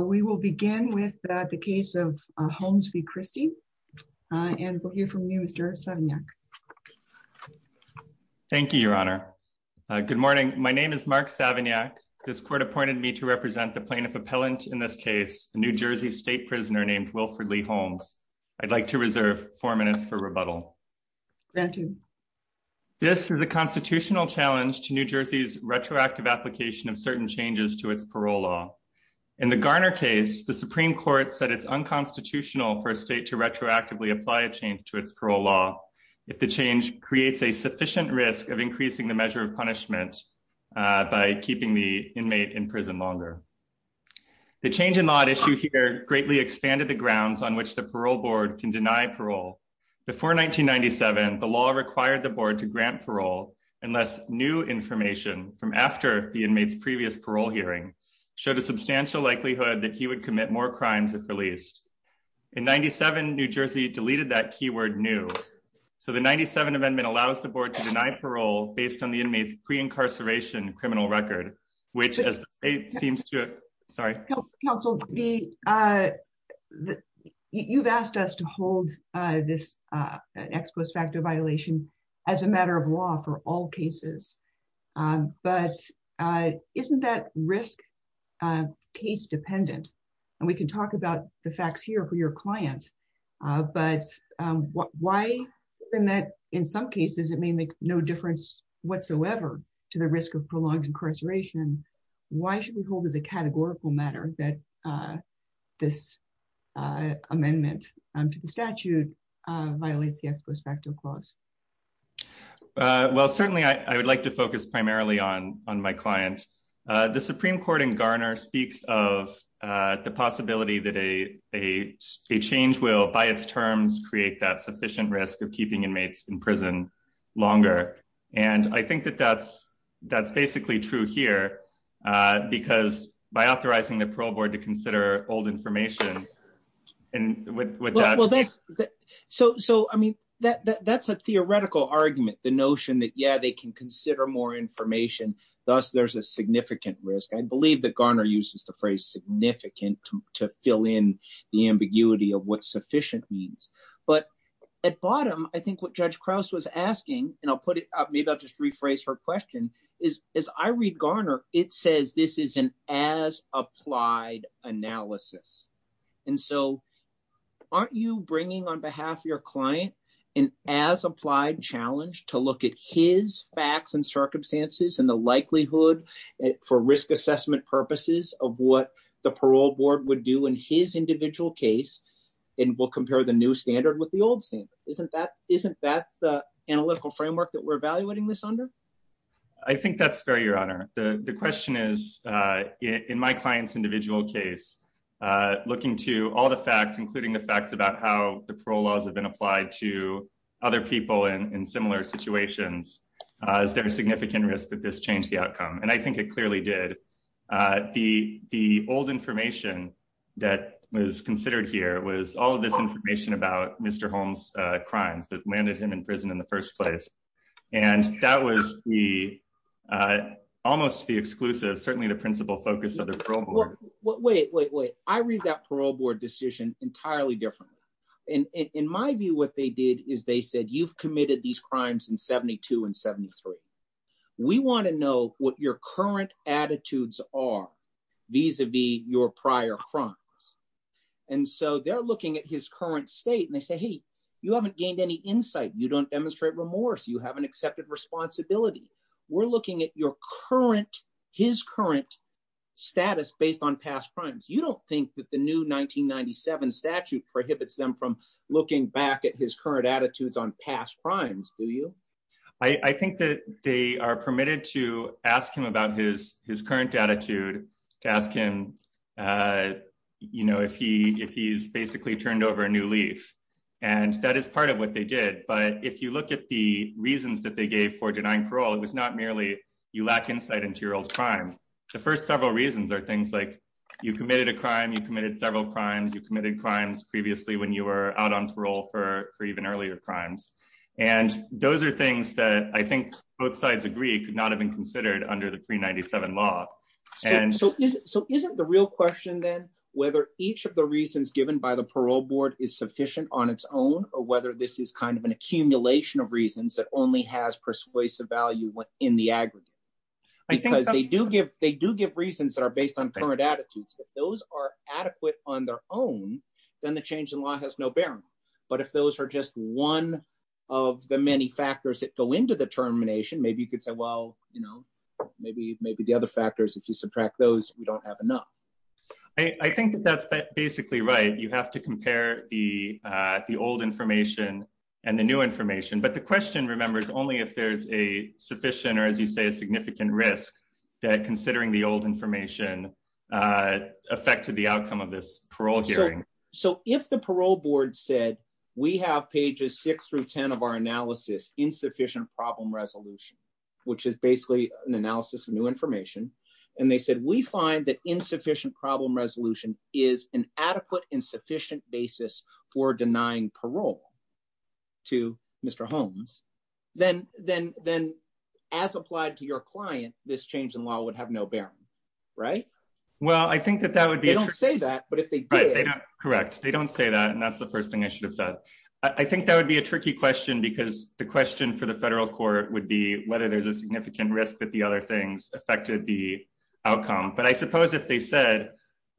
We will begin with the case of Holmes v. Christie. And we'll hear from you, Mr. Savignac. Thank you, Your Honor. Good morning. My name is Mark Savignac. This court appointed me to represent the plaintiff appellant in this case, a New Jersey State prisoner named Wilford Lee Holmes. I'd like to reserve four minutes for rebuttal. Granted. This is a constitutional challenge to New Jersey's retroactive application of certain changes to its parole law. In the Garner case, the Supreme Court said it's unconstitutional for a state to retroactively apply a change to its parole law if the change creates a sufficient risk of increasing the measure of punishment by keeping the inmate in prison longer. The change in law at issue here greatly expanded the grounds on which the parole board can deny parole. Before 1997, the law required the board to grant parole unless new information from after the inmates previous parole hearing showed a substantial likelihood that he would commit more crimes if released. In 97, New Jersey deleted that keyword new. So the 97 amendment allows the board to deny parole based on the inmates pre-incarceration criminal record, which seems to, sorry, counsel, the you've asked us to hold this ex post facto violation as a matter of law for all cases. But isn't that risk case dependent? And we can talk about the facts here for your clients. But why in that in some cases, it may make no difference whatsoever to the risk of prolonged incarceration. Why should we hold as a categorical matter that this amendment to the statute violates the ex post facto clause? Well, certainly, I would like to focus primarily on on my client, the Supreme Court in Garner speaks of the possibility that a, a change will by its terms create that sufficient risk of keeping inmates in prison longer. And I think that that's, that's basically true here. Because by authorizing the parole board to consider old information, and what well, that's, so so I mean, that that's a theoretical argument, the notion that yeah, they can consider more information. Thus, there's a significant risk, I believe that Garner uses the phrase significant to fill in the ambiguity of what sufficient means. But at bottom, I think what Judge Krause was asking, and I'll put it up, maybe I'll just rephrase her question is, is I read Garner, it says this is an as applied analysis. And so aren't you bringing on behalf of your client, and as applied challenge to look at his facts and circumstances and the likelihood for risk assessment purposes of what the parole board would do in his individual case, and we'll compare the new standard with the old standard, isn't that isn't that the analytical framework that we're evaluating this under? I think that's fair, Your Honor, the question is, in my client's individual case, looking to all the facts, including the facts about how the parole laws have been applied to other people in similar situations, is there a significant risk that this changed the outcome, and I think it clearly did. The old information that was considered here was all this information about Mr. Holmes crimes that landed him in prison in the first place. And that was the almost the exclusive, certainly the principal focus of the parole board. What wait, wait, wait, I read that parole board decision entirely different. And in my view, what they did is they said, you've committed these crimes in 72 and 73. We want to know what your current attitudes are vis-a-vis your prior crimes. And so they're looking at his current state and they say, hey, you haven't gained any insight, you don't demonstrate remorse, you haven't accepted responsibility. We're looking at your current, his current status based on past crimes. You don't think that the new 1997 statute prohibits them from looking back at his current his current attitude to ask him if he's basically turned over a new leaf. And that is part of what they did. But if you look at the reasons that they gave for denying parole, it was not merely you lack insight into your old crimes. The first several reasons are things like you committed a crime, you committed several crimes, you committed crimes previously when you were out on parole for even earlier crimes. And those are things that I think both sides agree could not have been considered under the pre-97 law. So isn't the real question then whether each of the reasons given by the parole board is sufficient on its own or whether this is kind of an accumulation of reasons that only has persuasive value in the aggregate? Because they do give they do give reasons that are based on current attitudes. If those are adequate on their own, then the change in law has no bearing. But if those are just one of the many factors that go into the termination, maybe you could say, well, you know, maybe maybe the other factors, if you subtract those, we don't have enough. I think that's basically right. You have to compare the the old information and the new information. But the question, remember, is only if there's a sufficient or, as you say, a significant risk that considering the old information affected the outcome of this parole hearing. So if the parole board said we have pages six through 10 of our analysis, insufficient problem resolution, which is basically an analysis of new information, and they said we find that insufficient problem resolution is an adequate and sufficient basis for denying parole to Mr. Holmes, then as applied to your client, this change in law would have no bearing, right? Well, I think that that would be... They don't say that, but if they did... Correct. They don't say that. And that's the first thing I should have said. I think that would be a tricky question, because the question for the federal court would be whether there's a significant risk that the other things affected the outcome. But I suppose if they said,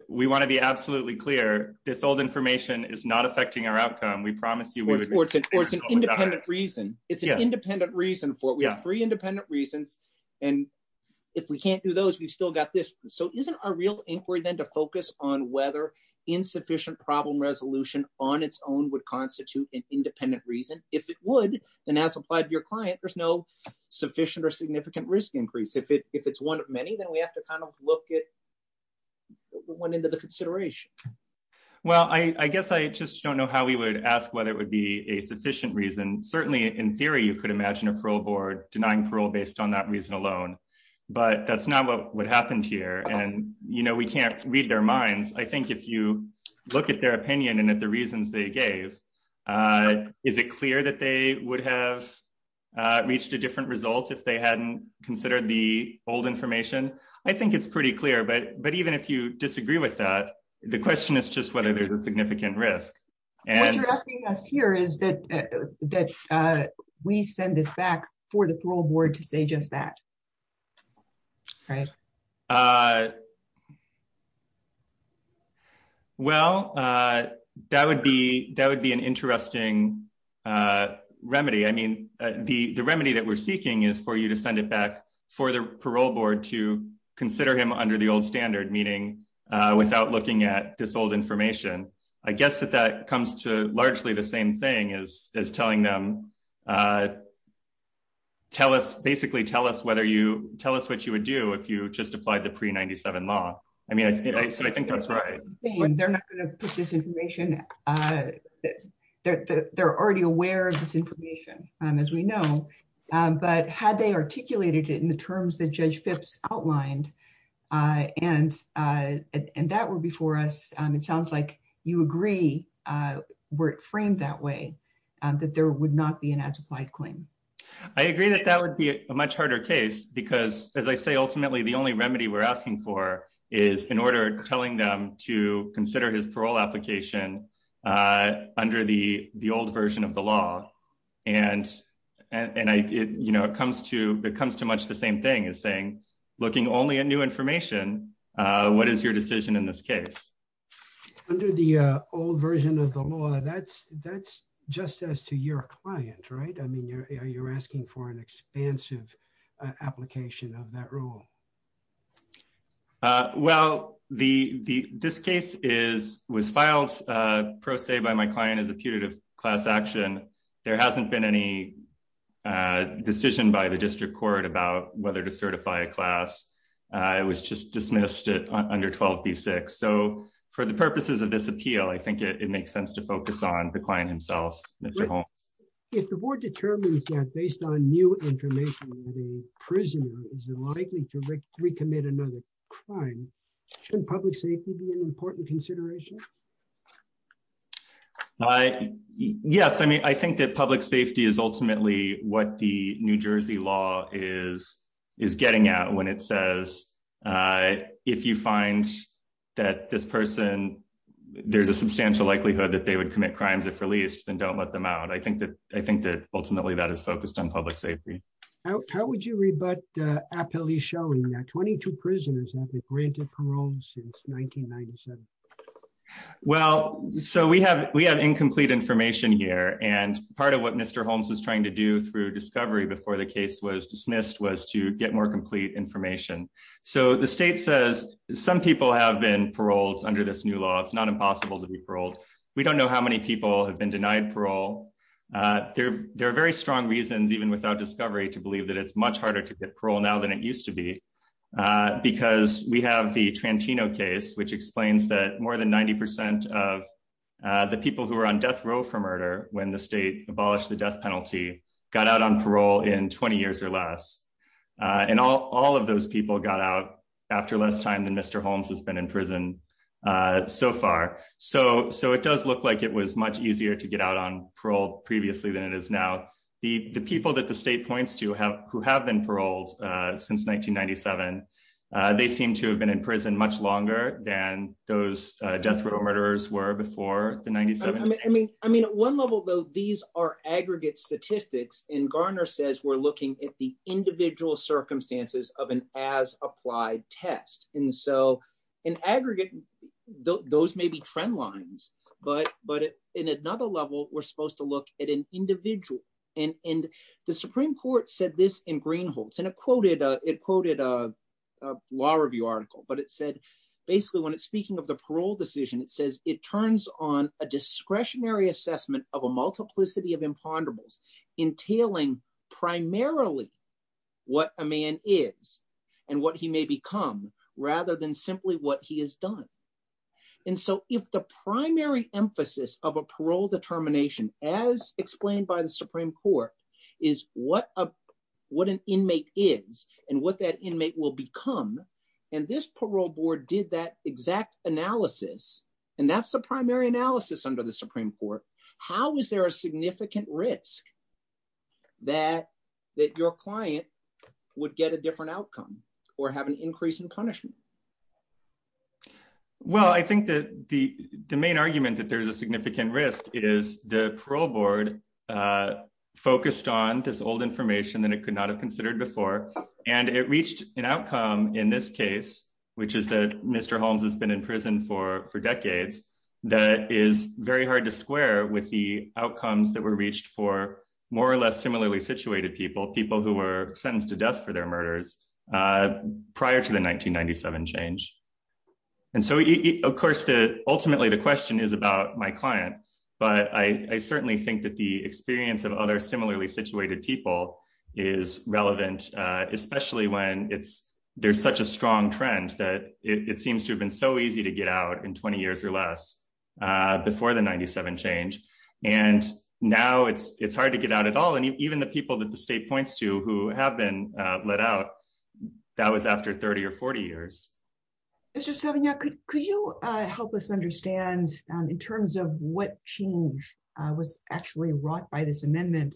we want to be absolutely clear, this old information is not affecting our outcome. We promise you... Or it's an independent reason. It's an independent reason for it. We have three independent reasons. And if we can't do those, we've still got this. So isn't our real inquiry then to focus on whether insufficient problem resolution on its own would constitute an independent reason? If it would, then as applied to your client, there's no sufficient or significant risk increase. If it's one of many, then we have to kind of look at what went into the consideration. Well, I guess I just don't know how we would ask whether it would be a sufficient reason. Certainly, in theory, you could imagine a parole board denying parole based on that reason alone, but that's not what happened here. And we can't read their minds. I think if you look at their opinion and at the reasons they gave, is it clear that they would have reached a different result if they hadn't considered the old information? I think it's pretty clear. But even if you disagree with that, the question is just whether there's a significant risk. What you're asking us here is that we send this back for the parole board to say that. Well, that would be an interesting remedy. I mean, the remedy that we're seeking is for you to send it back for the parole board to consider him under the old standard, meaning without looking at this old information. I guess that that comes to largely the same thing as telling them to basically tell us what you would do if you just applied the pre-97 law. I mean, I think that's right. They're not going to put this information. They're already aware of this information, as we know, but had they articulated it in the terms that Judge Phipps outlined and that were before us, it sounds like you agree, were it framed that that there would not be an as-applied claim. I agree that that would be a much harder case because as I say, ultimately, the only remedy we're asking for is in order telling them to consider his parole application under the old version of the law. And it comes to much the same thing as saying, looking only at new information, what is your decision in this case? Under the old version of the law, that's just as to your client, right? I mean, you're asking for an expansive application of that rule. Well, this case was filed pro se by my client as a putative class action. There hasn't been any decision by the district court about whether to certify a class. It was just dismissed under 12b6. So for the purposes of this appeal, I think it makes sense to focus on the client himself. If the board determines that based on new information, the prisoner is likely to recommit another crime, shouldn't public safety be an important consideration? Yes. I mean, I think that public safety is ultimately what the New Jersey law is getting out when it says, if you find that this person, there's a substantial likelihood that they would commit crimes if released, then don't let them out. I think that ultimately, that is focused on public safety. How would you rebut appellee showing that 22 prisoners have been granted parole since 1997? Well, so we have incomplete information here. And part of what Mr. Holmes was trying to do through discovery before the case was dismissed was to get more complete information. So the state says some people have been paroled under this new law. It's not impossible to be paroled. We don't know how many people have been denied parole. There are very strong reasons, even without discovery, to believe that it's much harder to get parole now than it used to be, because we have the Trantino case, which explains that more than 90% of the people who are on death row for murder, when the state abolished the death penalty, got out on parole in 20 years or less. And all of those people got out after less time than Mr. Holmes has been in prison so far. So it does look like it was much easier to get out on parole previously than it is now. The people that the state points to who have been paroled since 1997, they seem to have been in prison much longer than those death row murderers were before the 97. I mean, at one level, though, these are aggregate statistics. And Garner says we're looking at the individual circumstances of an as-applied test. And so in aggregate, those may be trend lines. But in another level, we're supposed to look at an individual. And the Supreme Court said this in Greenhalgh's. And it quoted a law review article. But it said, basically, when it's speaking of the parole decision, it says it turns on a discretionary assessment of a multiplicity of imponderables entailing primarily what a man is and what he may become rather than simply what he has done. And so if the primary emphasis of a parole determination, as explained by the Supreme Court, is what an inmate is and what that inmate will become, and this parole board did that exact analysis, and that's the primary analysis under the Supreme Court, how is there a significant risk that your client would get a different outcome or have an increase in punishment? Well, I think that the main argument that there's a significant risk is the parole board focused on this old information that it could not have considered before. And it reached an outcome in this case, which is that Mr. Holmes has been in prison for decades, that is very hard to square with the outcomes that were reached for more or less similarly situated people, people who were sentenced to death for their murders prior to the 1997 change. And so, of course, ultimately, the question is about my client. But I certainly think that the experience of other similarly situated people is relevant, especially when there's such a strong trend that it seems to have been so easy to get out in 20 years or less before the 97 change. And now it's hard to get out at all. And even the people that the state points to who have been let out, that was after 30 or 40 years. Mr. Savignot, could you help us understand in terms of what change was actually wrought by this amendment?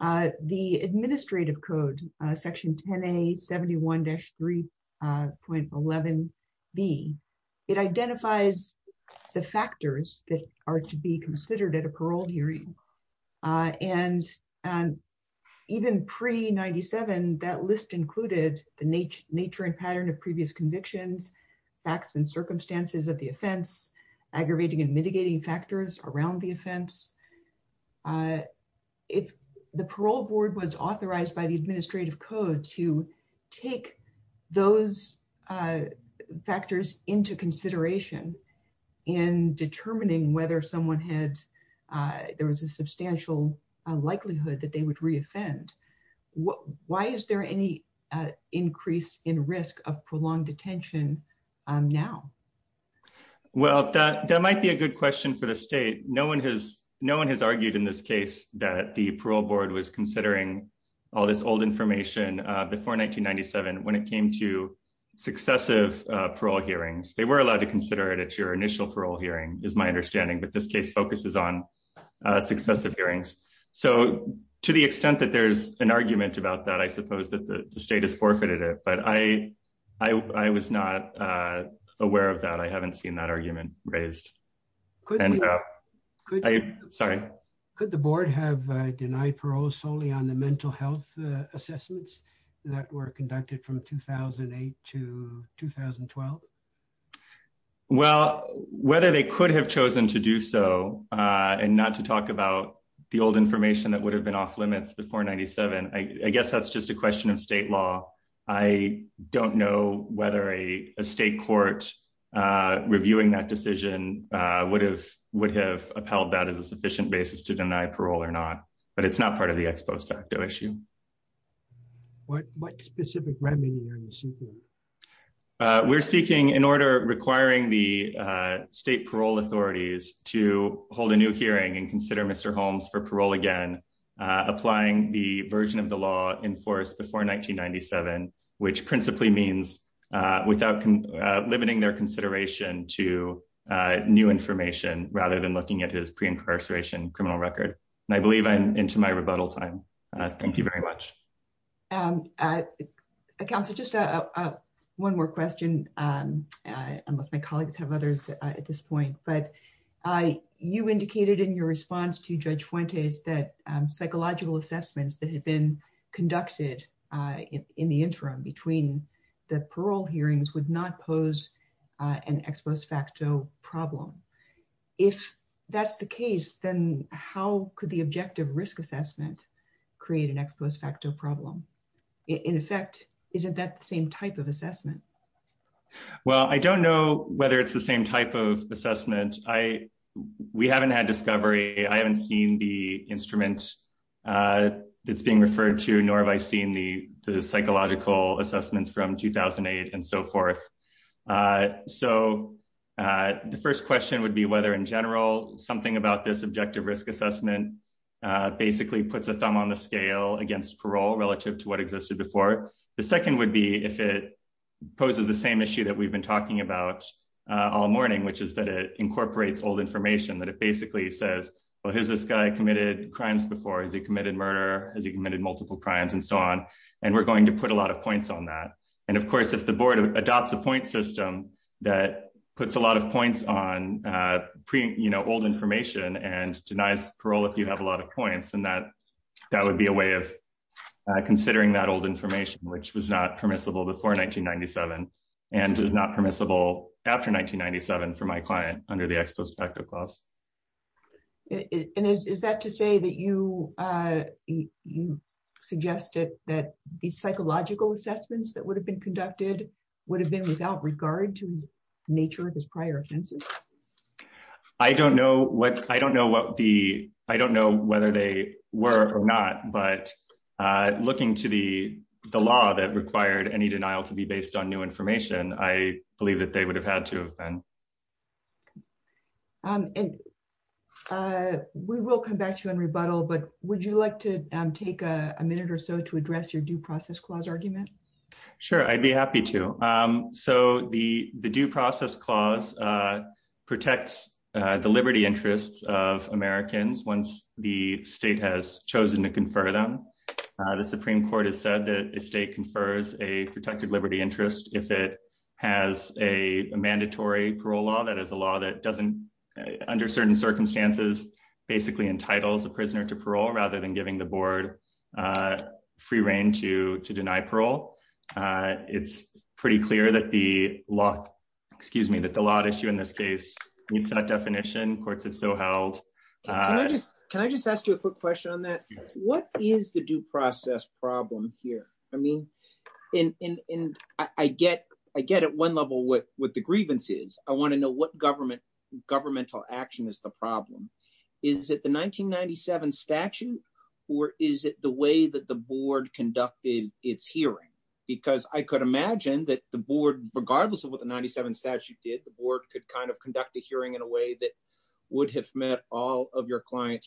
The administrative code, section 10A71-3.11B, it identifies the factors that are to be considered at a parole hearing. And even pre-97, that list included the nature and pattern of previous convictions, facts and circumstances of the offense, aggravating and mitigating factors around the offense. If the parole board was authorized by the administrative code to take those factors into consideration in determining whether someone had, there was a substantial likelihood that they would re-offend, why is there any increase in risk of prolonged detention now? Well, that might be a good question for the state. No one has argued in this case that the parole board was considering all this old information before 1997 when it came to successive parole hearings. They were allowed to consider it at your initial parole hearing, is my understanding, but this case focuses on successive hearings. So to the extent that there's an argument about that, I suppose that the state has forfeited it. But I was not aware of that. I haven't seen that argument raised. Could the board have denied parole solely on the mental health assessments that were conducted from 2008 to 2012? Well, whether they could have chosen to do so and not to talk about the old information that would have been off limits before 97, I guess that's just a question of state law. I don't know whether a state court reviewing that decision would have upheld that as a sufficient basis to deny parole or not, but it's not part of the ex post facto issue. What specific remedy are you seeking? We're seeking in order requiring the state parole authorities to hold a new hearing and consider Mr. Holmes for parole again, applying the version of the law enforced before 1997, which principally means without limiting their consideration to new information rather than looking at his incarceration criminal record. And I believe I'm into my rebuttal time. Thank you very much. Counselor, just one more question, unless my colleagues have others at this point, but you indicated in your response to Judge Fuentes that psychological assessments that had been conducted in the interim between the parole hearings would not pose an ex post facto problem. If that's the case, then how could the objective risk assessment create an ex post facto problem? In effect, isn't that the same type of assessment? Well, I don't know whether it's the same type of assessment. We haven't had discovery. I haven't seen the instruments that's being referred to, nor have I seen the psychological assessments from 2008 and so forth. So the first question would be whether in general something about this objective risk assessment basically puts a thumb on the scale against parole relative to what existed before. The second would be if it poses the same issue that we've been talking about all morning, which is that it incorporates old information that it basically says, well, has this guy committed crimes before? Has he committed murder? Has he committed multiple crimes and so on? And we're going to put a lot of points on that. And of course, if the board adopts a point system that puts a lot of points on old information and denies parole if you have a lot of points, then that would be a way of considering that old information, which was not permissible before 1997 and is not permissible after 1997 for my client under the ex post facto clause. And is that to say that you suggested that the psychological assessments that would have been conducted would have been without regard to the nature of his prior offenses? I don't know whether they were or not, but looking to the the law that required any denial to be based on new information, I believe that they would have had to have been. And we will come back to you on rebuttal, but would you like to take a minute or so to address your due process clause argument? Sure, I'd be happy to. So the due process clause protects the liberty interests of Americans once the state has chosen to confer them. The Supreme Court has said that if state confers a protected liberty interest, if it has a mandatory parole law, that is a law that doesn't under certain circumstances, basically entitles a prisoner to parole rather than giving the board free reign to to deny parole. It's pretty clear that the law, excuse me, that the law issue in this case meets that definition. Courts have so held. Can I just ask you a quick question on that? What is the due process problem here? I mean, I get at one level what the grievance is. I want to know what government governmental action is the problem. Is it the 1997 statute or is it the way that the board conducted its hearing? Because I could imagine that the board, regardless of what the 97 statute did, the board could kind of conduct a hearing in a way that would have met all of your client's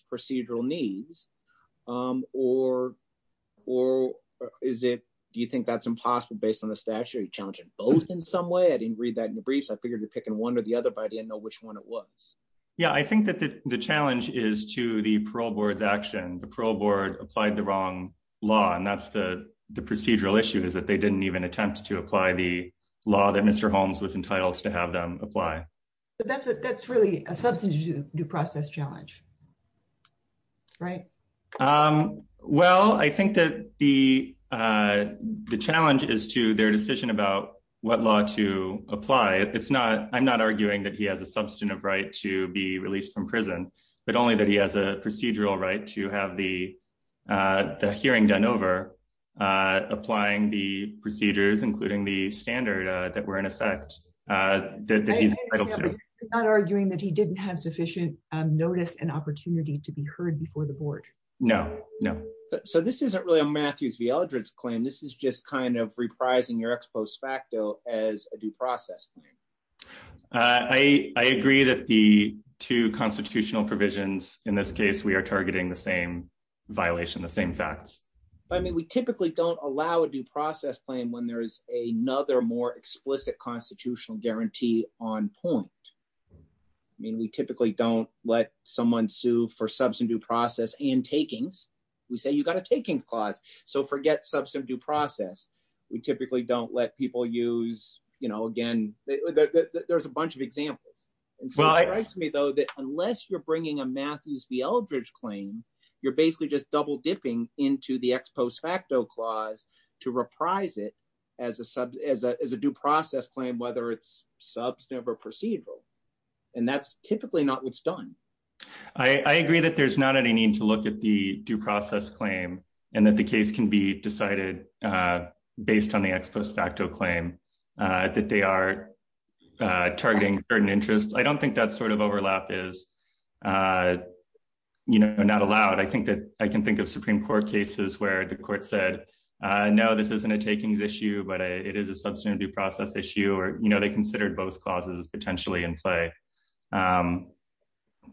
Do you think that's impossible based on the statute challenging both in some way? I didn't read that in the briefs. I figured you're picking one or the other, but I didn't know which one it was. Yeah, I think that the challenge is to the parole board's action. The parole board applied the wrong law, and that's the procedural issue is that they didn't even attempt to apply the law that Mr. Holmes was entitled to have them apply. But that's that's really a due process challenge, right? Well, I think that the challenge is to their decision about what law to apply. It's not I'm not arguing that he has a substantive right to be released from prison, but only that he has a procedural right to have the hearing done over, applying the procedures, including the standard that were in effect that he's not arguing that he didn't have sufficient notice and opportunity to be heard before the board. No, no. So this isn't really a Matthews v. Eldredge claim. This is just kind of reprising your ex post facto as a due process. I agree that the two constitutional provisions in this case, we are targeting the same violation, the same facts. I mean, we typically don't allow a due process claim when there is another more explicit constitutional guarantee on point. I mean, we typically don't let someone sue for substantive process and takings. We say you got a takings clause. So forget substantive process. We typically don't let people use, you know, again, there's a bunch of examples. It strikes me, though, that unless you're bringing a Matthews v. Eldredge claim, you're basically just double dipping into the ex post facto clause to reprise it as a due process claim, whether it's substantive or procedural. And that's typically not what's done. I agree that there's not any need to look at the due process claim and that the case can be decided based on the ex post facto claim that they are targeting certain interests. I don't allow it. I think that I can think of Supreme Court cases where the court said, no, this isn't a takings issue, but it is a substantive due process issue. Or, you know, they considered both clauses potentially in play.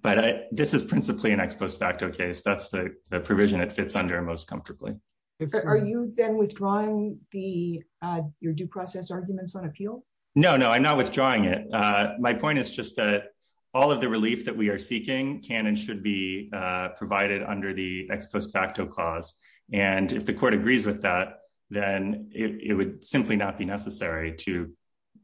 But this is principally an ex post facto case. That's the provision it fits under most comfortably. Are you then withdrawing the your due process arguments on appeal? No, no, I'm not withdrawing it. My point is just that all of the relief that we are seeking can and should be provided under the ex post facto clause. And if the court agrees with that, then it would simply not be necessary to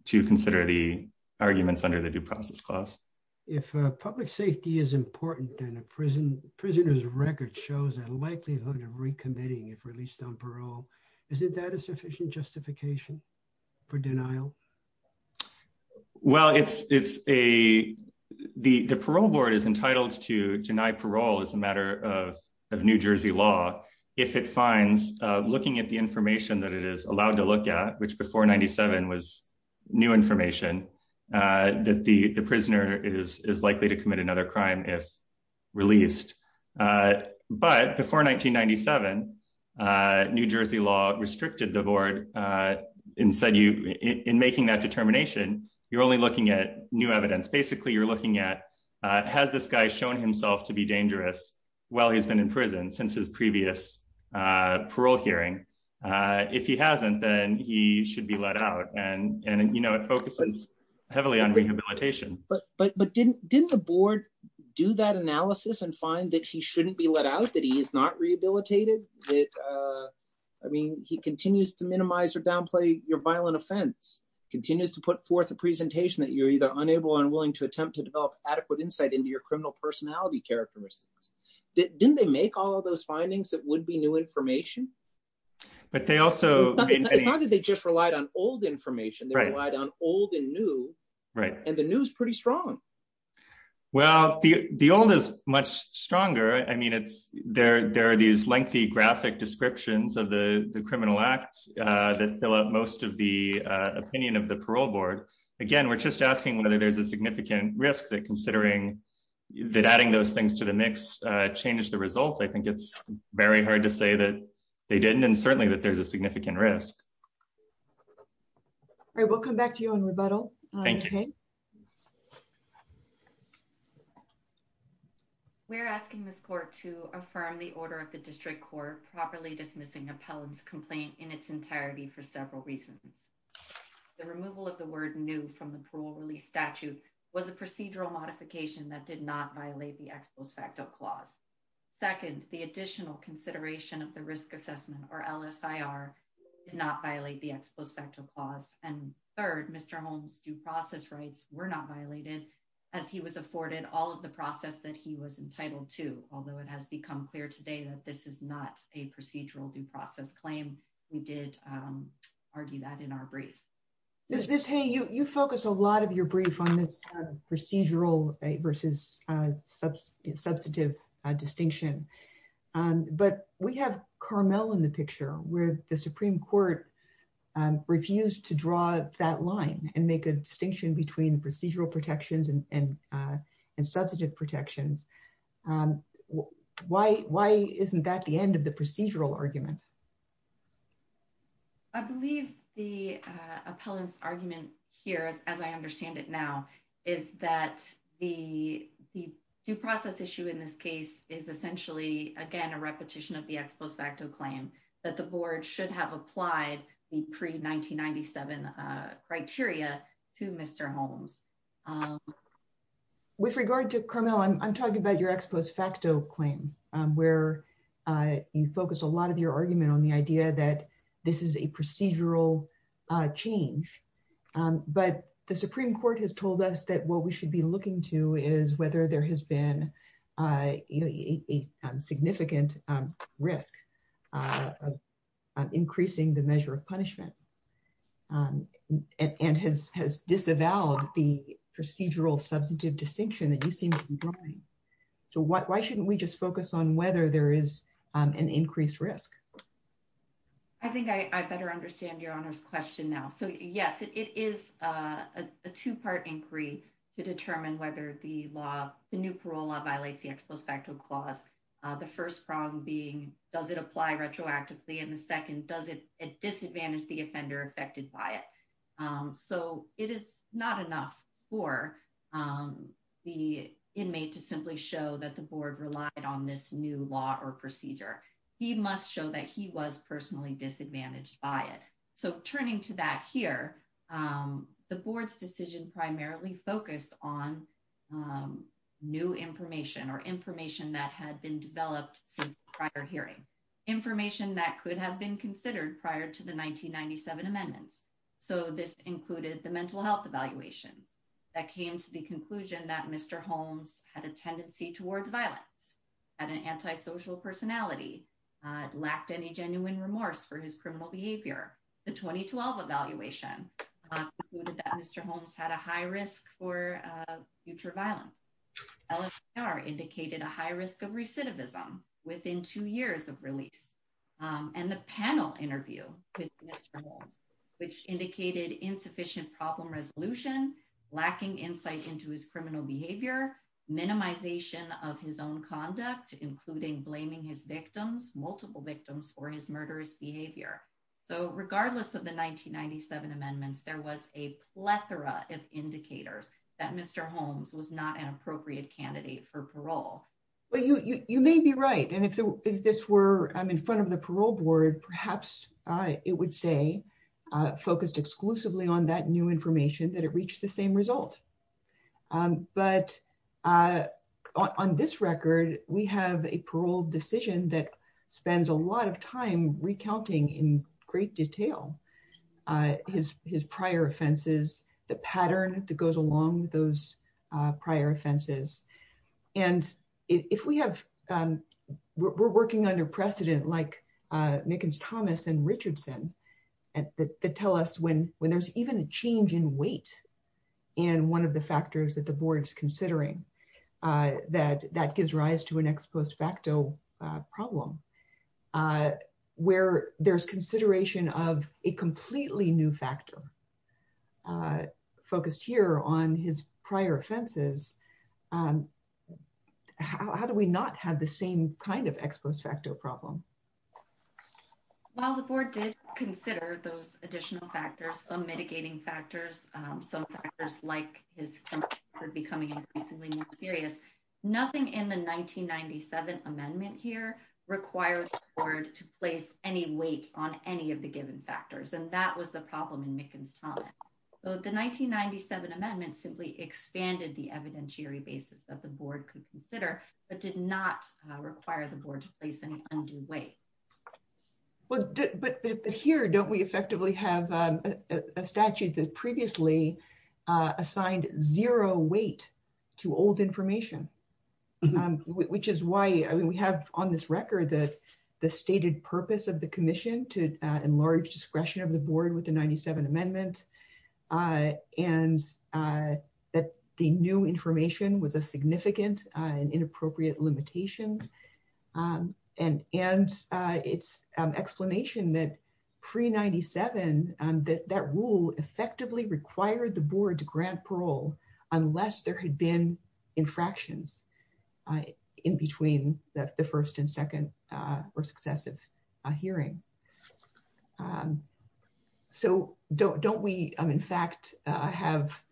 to consider the arguments under the due process clause. If public safety is important and a prison prisoner's record shows a likelihood of recommitting if released on parole, is it that a sufficient justification for denial? Well, it's it's a the parole board is entitled to deny parole as a matter of of New Jersey law if it finds looking at the information that it is allowed to look at, which before 97 was new information that the prisoner is is likely to commit another crime if released. But before 1997, New Jersey law restricted the board and said, you in making that determination, you're only looking at new evidence. Basically, you're looking at has this guy shown himself to be dangerous while he's been in prison since his previous parole hearing? If he hasn't, then he should be let out. And, you know, it focuses heavily on rehabilitation. But but didn't didn't the board do that analysis and find that he shouldn't be let out that he is not rehabilitated? I mean, he continues to minimize or downplay your violent offense, continues to put forth a presentation that you're either unable or unwilling to attempt to develop adequate insight into your criminal personality characteristics? Didn't they make all those findings that would be new information? But they also decided they just relied on old information, right on old and new, right. And the news pretty strong. Well, the the old is much stronger. I mean, it's there. There is lengthy graphic descriptions of the criminal acts that fill up most of the opinion of the parole board. Again, we're just asking whether there's a significant risk that considering that adding those things to the mix changes the results. I think it's very hard to say that they didn't and certainly that there's a significant risk. All right, we'll come back to you in rebuttal. Thank you. We're asking this court to affirm the order of the district court properly dismissing appellant's complaint in its entirety for several reasons. The removal of the word new from the parole release statute was a procedural modification that did not violate the ex post facto clause. Second, the additional consideration of the risk assessment or LSIR did not violate the ex post facto clause. And third, the process rights were not violated as he was afforded all of the process that he was entitled to, although it has become clear today that this is not a procedural due process claim. We did argue that in our brief. Ms. Hay, you focus a lot of your brief on this procedural versus substantive distinction. But we have Carmel in the picture where the Supreme Court has a distinction between procedural protections and substantive protections. Why isn't that the end of the procedural argument? I believe the appellant's argument here, as I understand it now, is that the due process issue in this case is essentially, again, a repetition of the ex post facto claim that the board should have applied the pre 1997 criteria to Mr. Holmes. With regard to Carmel, I'm talking about your ex post facto claim, where you focus a lot of your argument on the idea that this is a procedural change. But the Supreme Court has told us that what we should be looking to is whether there has been a significant risk of increasing the measure of punishment, and has disavowed the procedural substantive distinction that you seem to be drawing. So why shouldn't we just focus on whether there is an increased risk? I think I better understand Your Honor's question now. So yes, it is a two part inquiry to determine whether the new parole law violates the ex post facto clause. The first problem being, does it apply retroactively? And the second, does it disadvantage the offender affected by it? So it is not enough for the inmate to simply show that the board relied on this new law or procedure. He must show that he was personally disadvantaged by it. So turning to that here, the board's decision primarily focused on new information or information that had been developed since prior hearing. Information that could have been considered prior to the 1997 amendments. So this included the mental health evaluations that came to the conclusion that Mr. Holmes had a tendency towards violence, had an antisocial personality, lacked any genuine remorse for his criminal behavior. The 2012 evaluation concluded that Mr. Holmes had a high risk for future violence. LHR indicated a high risk of recidivism within two years of release. And the panel interview with Mr. Holmes, which indicated insufficient problem resolution, lacking insight into his criminal behavior, minimization of his conduct, including blaming his victims, multiple victims for his murderous behavior. So regardless of the 1997 amendments, there was a plethora of indicators that Mr. Holmes was not an appropriate candidate for parole. You may be right. And if this were in front of the parole board, perhaps it would say, focused exclusively on that new information, that it reached the same result. But on this record, we have a parole decision that spends a lot of time recounting in great detail his prior offenses, the pattern that goes along with those prior offenses. And if we have, we're working under precedent like Mickens-Thomas and Richardson that tell us when there's even a change in weight in one of the factors that the board's considering, that that gives rise to an ex post facto problem, where there's consideration of a completely new factor focused here on his prior offenses. How do we not have the same kind of ex post facto problem? While the board did consider those additional factors, some mitigating factors, some factors like his becoming increasingly more serious, nothing in the 1997 amendment here required the board to place any weight on any of the given factors. And that was the problem in Mickens-Thomas. So the 1997 amendment simply expanded the evidentiary basis that the board could consider, but did not require the board to place any undue weight. Well, but here, don't we effectively have a statute that previously assigned zero weight to old information? Which is why I mean, we have on this record that the stated purpose of the commission to enlarge discretion of the board with the 97 amendment. And that the new information was a significant and inappropriate limitations. And it's explanation that pre-97, that rule effectively required the board to grant parole, unless there had been infractions in between the first and second or successive hearing. And so don't we, in fact, have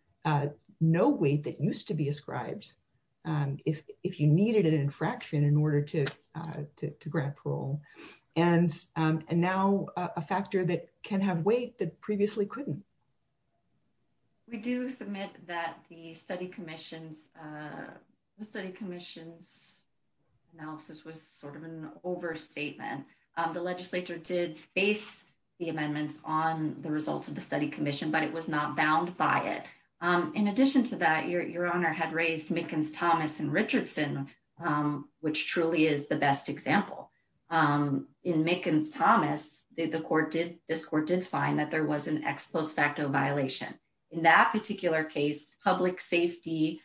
no weight that used to be ascribed if you needed an infraction in order to grant parole. And now a factor that can have weight that previously couldn't. We do submit that the study commission's analysis was sort of an overstatement. The legislature did face the amendments on the results of the study commission, but it was not bound by it. In addition to that, your honor had raised Mickens-Thomas and Richardson, which truly is the best example. In Mickens-Thomas, this court did find that there was an ex post facto violation. In that particular case, public safety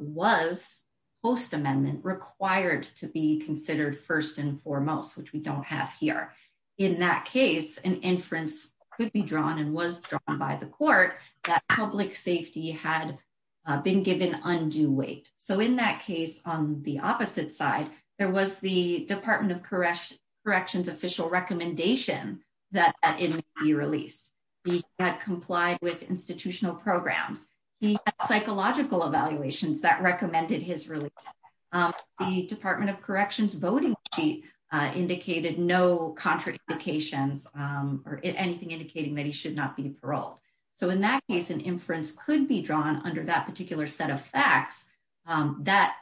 was post amendment required to be considered first and foremost, which we don't have here. In that case, an inference could be drawn and was drawn by the court that public safety had been given undue weight. So in that case, on the opposite side, there was the department of corrections official recommendation that it be released. He had complied with institutional programs. He had psychological evaluations that recommended his release. The department of corrections voting sheet indicated no contradications or anything indicating that he should not be paroled. So in that case, an inference could be drawn under that particular set of facts that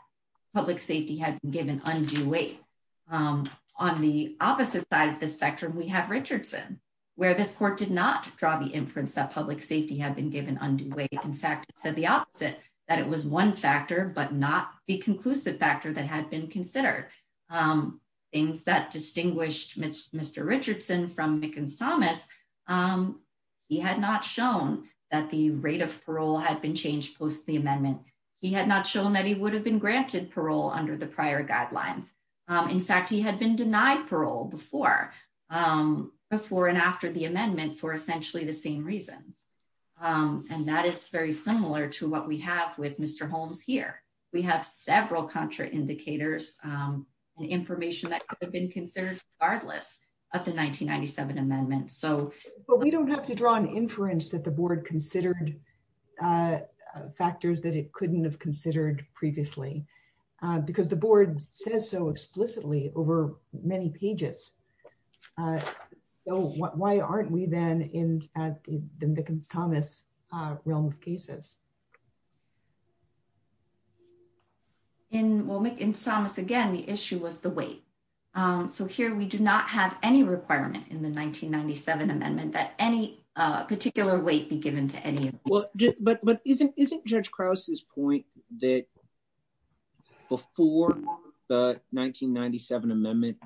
public safety had been given undue weight. On the opposite side of the spectrum, we have Richardson, where this court did not draw the inference that public safety had been given undue weight. In fact, it said the opposite, that it was one factor, but not the conclusive factor that had been considered. Things that distinguished Mr. Richardson from Mickens-Thomas, he had not shown that the rate of parole had been changed post the amendment. He had not shown that he would have been granted parole under the prior guidelines. In fact, he had been denied parole before and after the amendment for essentially the same reasons. And that is very similar to what we have with Mr. Holmes here. We have several contraindicators and information that could have been considered regardless of the 1997 amendment. But we don't have to draw an inference that the board considered factors that it couldn't have considered previously, because the board says so explicitly over many pages. So why aren't we then in the Mickens-Thomas realm of cases? Well, Mickens-Thomas, again, the issue was the weight. So here we do not have any requirement in the 1997 amendment that any particular weight be given to any of these. But isn't Judge Krause's point that before the 1997 amendment,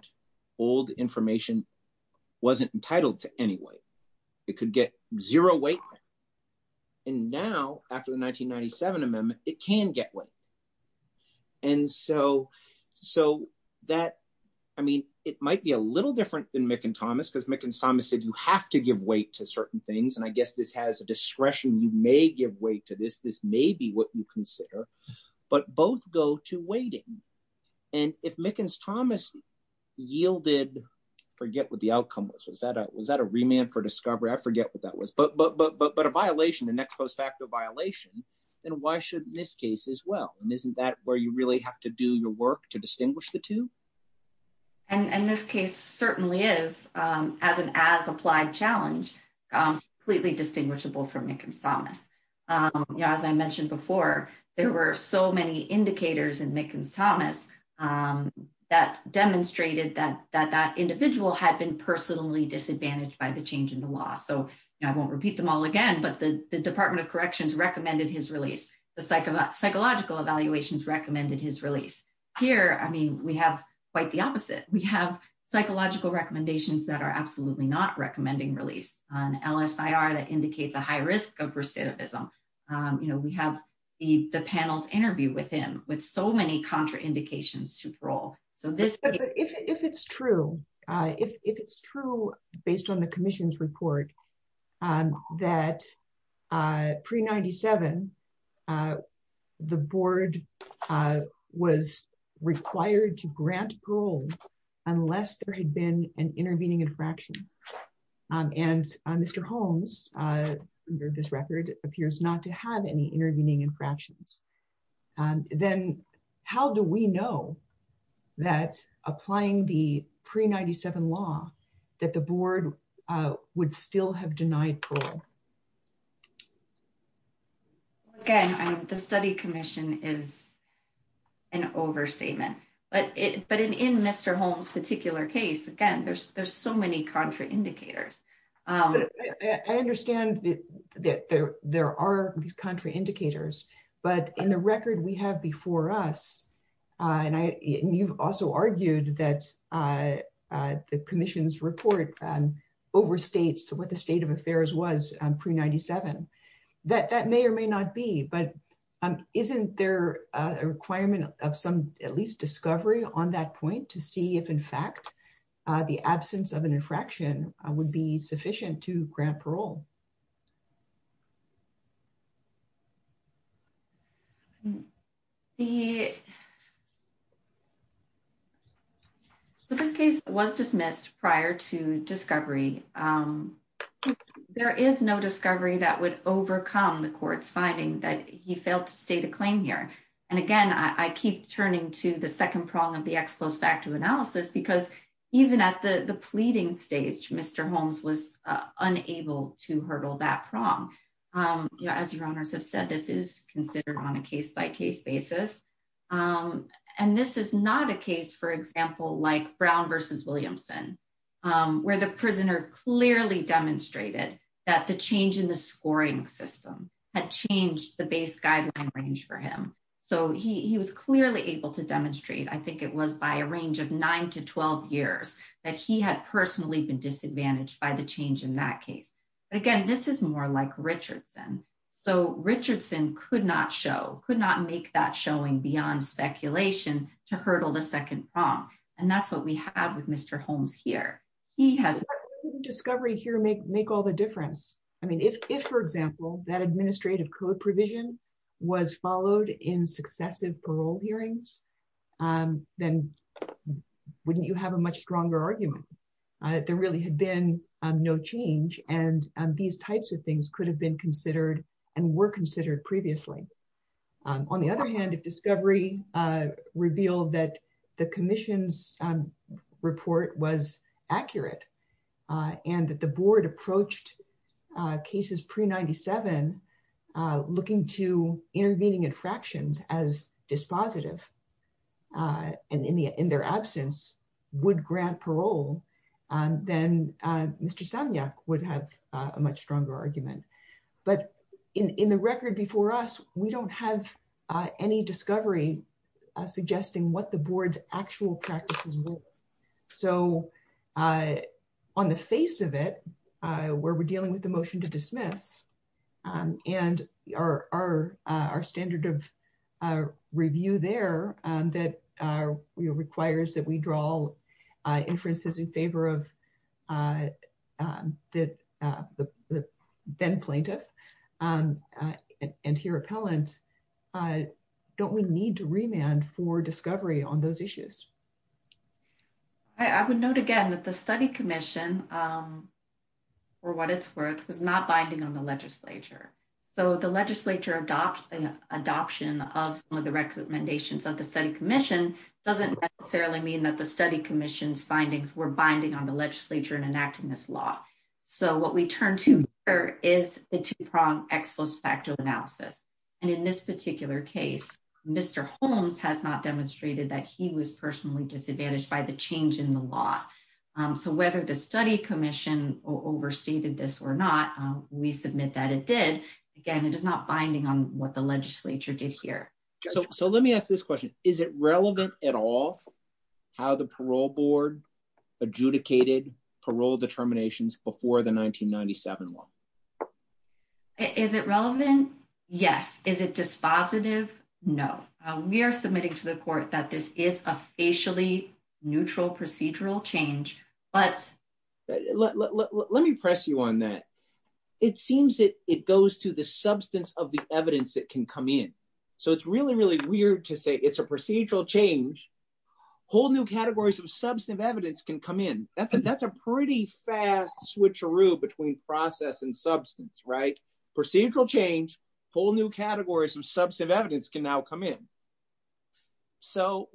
old information wasn't entitled to any weight? It could get zero weight. And now after the 1997 amendment, it can get weight. And so that, I mean, it might be a little different than Mickens-Thomas, because Mickens-Thomas said you have to give weight to certain things. And I guess this has a discretion, you may give weight to this, this may be what you consider, but both go to weighting. And if Mickens-Thomas yielded, forget what the outcome was, was that a remand for discovery? I forget what that was. But a violation, the next post facto violation, then why shouldn't this case as well? And isn't that where you really have to do your work to distinguish the two? And this case certainly is, as an as-applied challenge, completely distinguishable from Mickens-Thomas. As I mentioned before, there were so many indicators in Mickens-Thomas that demonstrated that that individual had been personally disadvantaged by the change in the law. So I won't repeat them all again, but the Department of Corrections recommended his release. The Psychological Evaluations recommended his release. Here, I mean, we have quite the opposite. We have psychological recommendations that are absolutely not recommending release, an LSIR that indicates a high risk of recidivism. We have the panel's interview with him with so many contraindications to parole. So this- But if it's true, if it's true based on the unless there had been an intervening infraction, and Mr. Holmes, under this record, appears not to have any intervening infractions, then how do we know that applying the pre-97 law that the board would still have denied parole? Again, the study commission is an overstatement. But in Mr. Holmes' particular case, again, there's so many contraindicators. I understand that there are these contraindicators, but in the record we have before us, and you've also argued that the commission's report overstates what the state of affairs was pre-97. That may or may not be, but isn't there a requirement of some, at least, discovery on that point to see if in fact the absence of an infraction would be sufficient to grant parole? So this case was dismissed prior to discovery. There is no discovery that would overcome the court's finding that he failed to state a claim here. And again, I keep turning to the second prong of the ex post facto analysis because even at the pleading stage, Mr. Holmes was unable to hurdle that prong. As your honors have said, this is considered on a case-by-case basis. And this is not a case, for example, like Brown vs. Williamson, where the prisoner clearly demonstrated that the change in the scoring system had changed the base guideline range for him. So he was clearly able to demonstrate, I think it was by a range of nine to 12 years, that he had personally been disadvantaged by the change in that case. But again, this is more like Richardson. So Richardson could not show, could not make that showing beyond speculation to hurdle the second prong. And that's what we have with Mr. Holmes here. He has... Wouldn't discovery here make all the difference? I mean, if, for example, that administrative code provision was followed in successive parole hearings, then wouldn't you have a much stronger argument? There really had been no change, and these types of things could have been considered and were considered previously. On the other hand, if discovery revealed that the commission's report was accurate, and that the board approached cases pre-'97 looking to intervening infractions as dispositive, and in their absence would grant parole, then Mr. Samyak would have a much stronger argument. But in the record before us, we don't have any discovery suggesting what the board's actual practices were. So on the face of it, where we're dealing with the motion to dismiss, and our standard of review there that requires that we draw inferences in favor of a then-plaintiff and hear appellant, don't we need to remand for discovery on those issues? I would note again that the study commission, for what it's worth, was not binding on the legislature. So the legislature adoption of some of the recommendations of the study commission doesn't necessarily mean that the study commission's findings were binding on the legislature in enacting this law. So what we turn to here is the two-pronged ex post facto analysis. And in this particular case, Mr. Holmes has not demonstrated that he was personally disadvantaged by the change in the law. So whether the study commission overstated this or not, we submit that it did. Again, it is not binding on what the legislature did here. So let me ask this question. Is it relevant at all how the parole board adjudicated parole determinations before the 1997 one? Is it relevant? Yes. Is it dispositive? No. We are submitting to the court that this is a facially neutral procedural change. Let me press you on that. It seems that it goes to the substance of the evidence that can come in. So it's really, really weird to say it's a procedural change. Whole new categories of substantive evidence can come in. That's a pretty fast switcheroo between process and substance, right? Procedural change, whole new categories of substantive evidence can now come in. So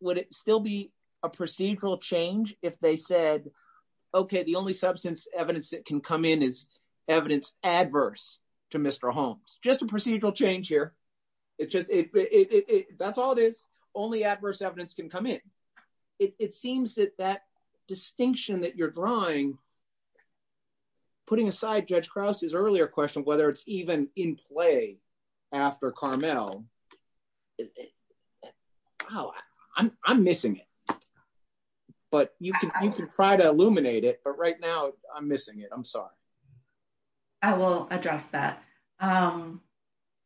would it still be a procedural change if they said, okay, the only substance evidence that can in is evidence adverse to Mr. Holmes? Just a procedural change here. That's all it is. Only adverse evidence can come in. It seems that that distinction that you're drawing, putting aside Judge Krause's earlier question, whether it's even in play after Carmel, I'm missing it, but you can try to illuminate it, but right now I'm missing it. I'm sorry. I will address that.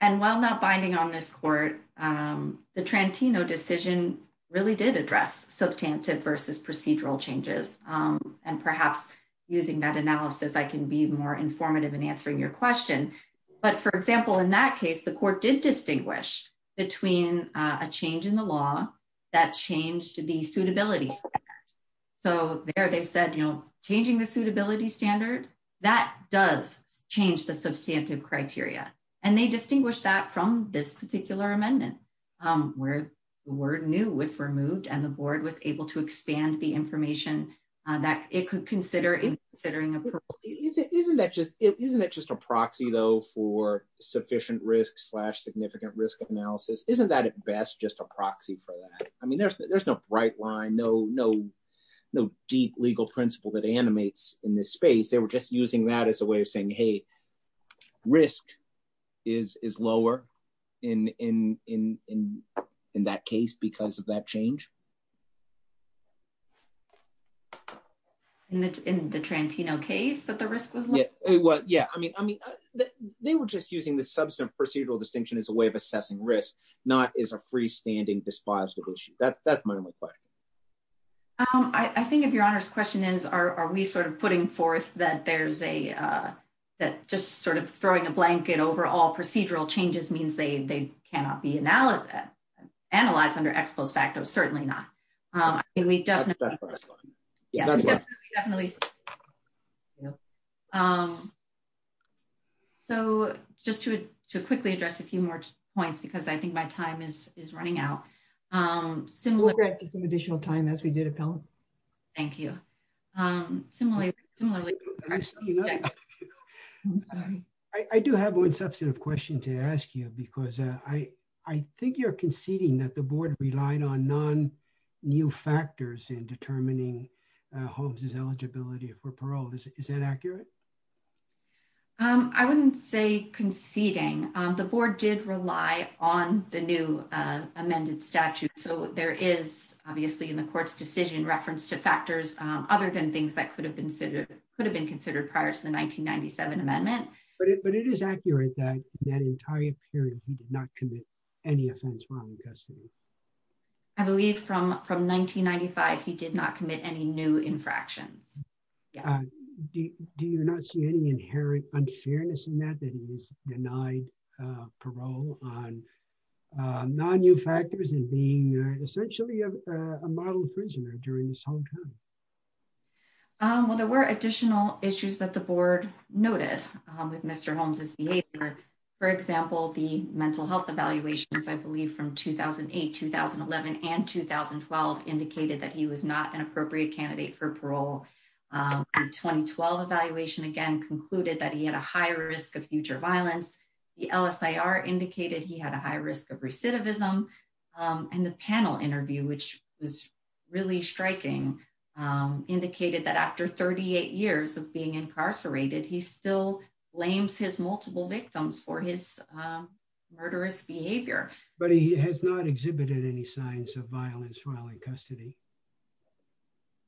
And while not binding on this court, the Trantino decision really did address substantive versus procedural changes. And perhaps using that analysis, I can be more informative in between a change in the law that changed the suitability standard. So there they said, you know, changing the suitability standard, that does change the substantive criteria. And they distinguish that from this particular amendment where the word new was removed and the board was able to expand the information that it could consider in considering approval. Isn't that just a proxy though for sufficient risk slash significant risk analysis? Isn't that at best just a proxy for that? I mean, there's no bright line, no deep legal principle that animates in this space. They were just using that as a way of saying, hey, risk is lower in that case because of that change. In the Trantino case that the risk was lower? Yeah. I mean, they were just using the substantive procedural distinction as a way of assessing risk, not as a freestanding dispositive issue. That's my only question. I think if your honor's question is, are we sort of putting forth that there's a, that just sort of throwing a blanket over all procedural changes means they cannot be that analyzed under ex post facto, certainly not. I mean, we definitely, definitely. So just to quickly address a few more points, because I think my time is running out. Similar to some additional time as we did appellate. Thank you. Similarly, I'm sorry. I do have one substantive question to ask you, because I think you're conceding that the board relied on non new factors in determining Holmes's eligibility for parole. Is that accurate? I wouldn't say conceding. The board did rely on the new amended statute. So there is obviously in the court's decision reference to factors other than things that could have been considered prior to the 1997 amendment. But it is accurate that that entire period, he did not commit any offense while in custody. I believe from 1995, he did not commit any new infractions. Do you not see any inherent unfairness in that that he was denied parole on non new factors and being essentially a model prisoner during this whole time? Well, there were additional issues that the board noted with Mr. Holmes's behavior. For example, the mental health evaluations, I believe from 2008, 2011 and 2012, indicated that he was not an appropriate candidate for parole. The 2012 evaluation, again, concluded that he had a high risk of future violence. The LSIR indicated he had a high risk of recidivism. And the panel interview, which was really striking, indicated that after 38 years of being incarcerated, he still blames his multiple victims for his murderous behavior. But he has not exhibited any signs of violence while in custody.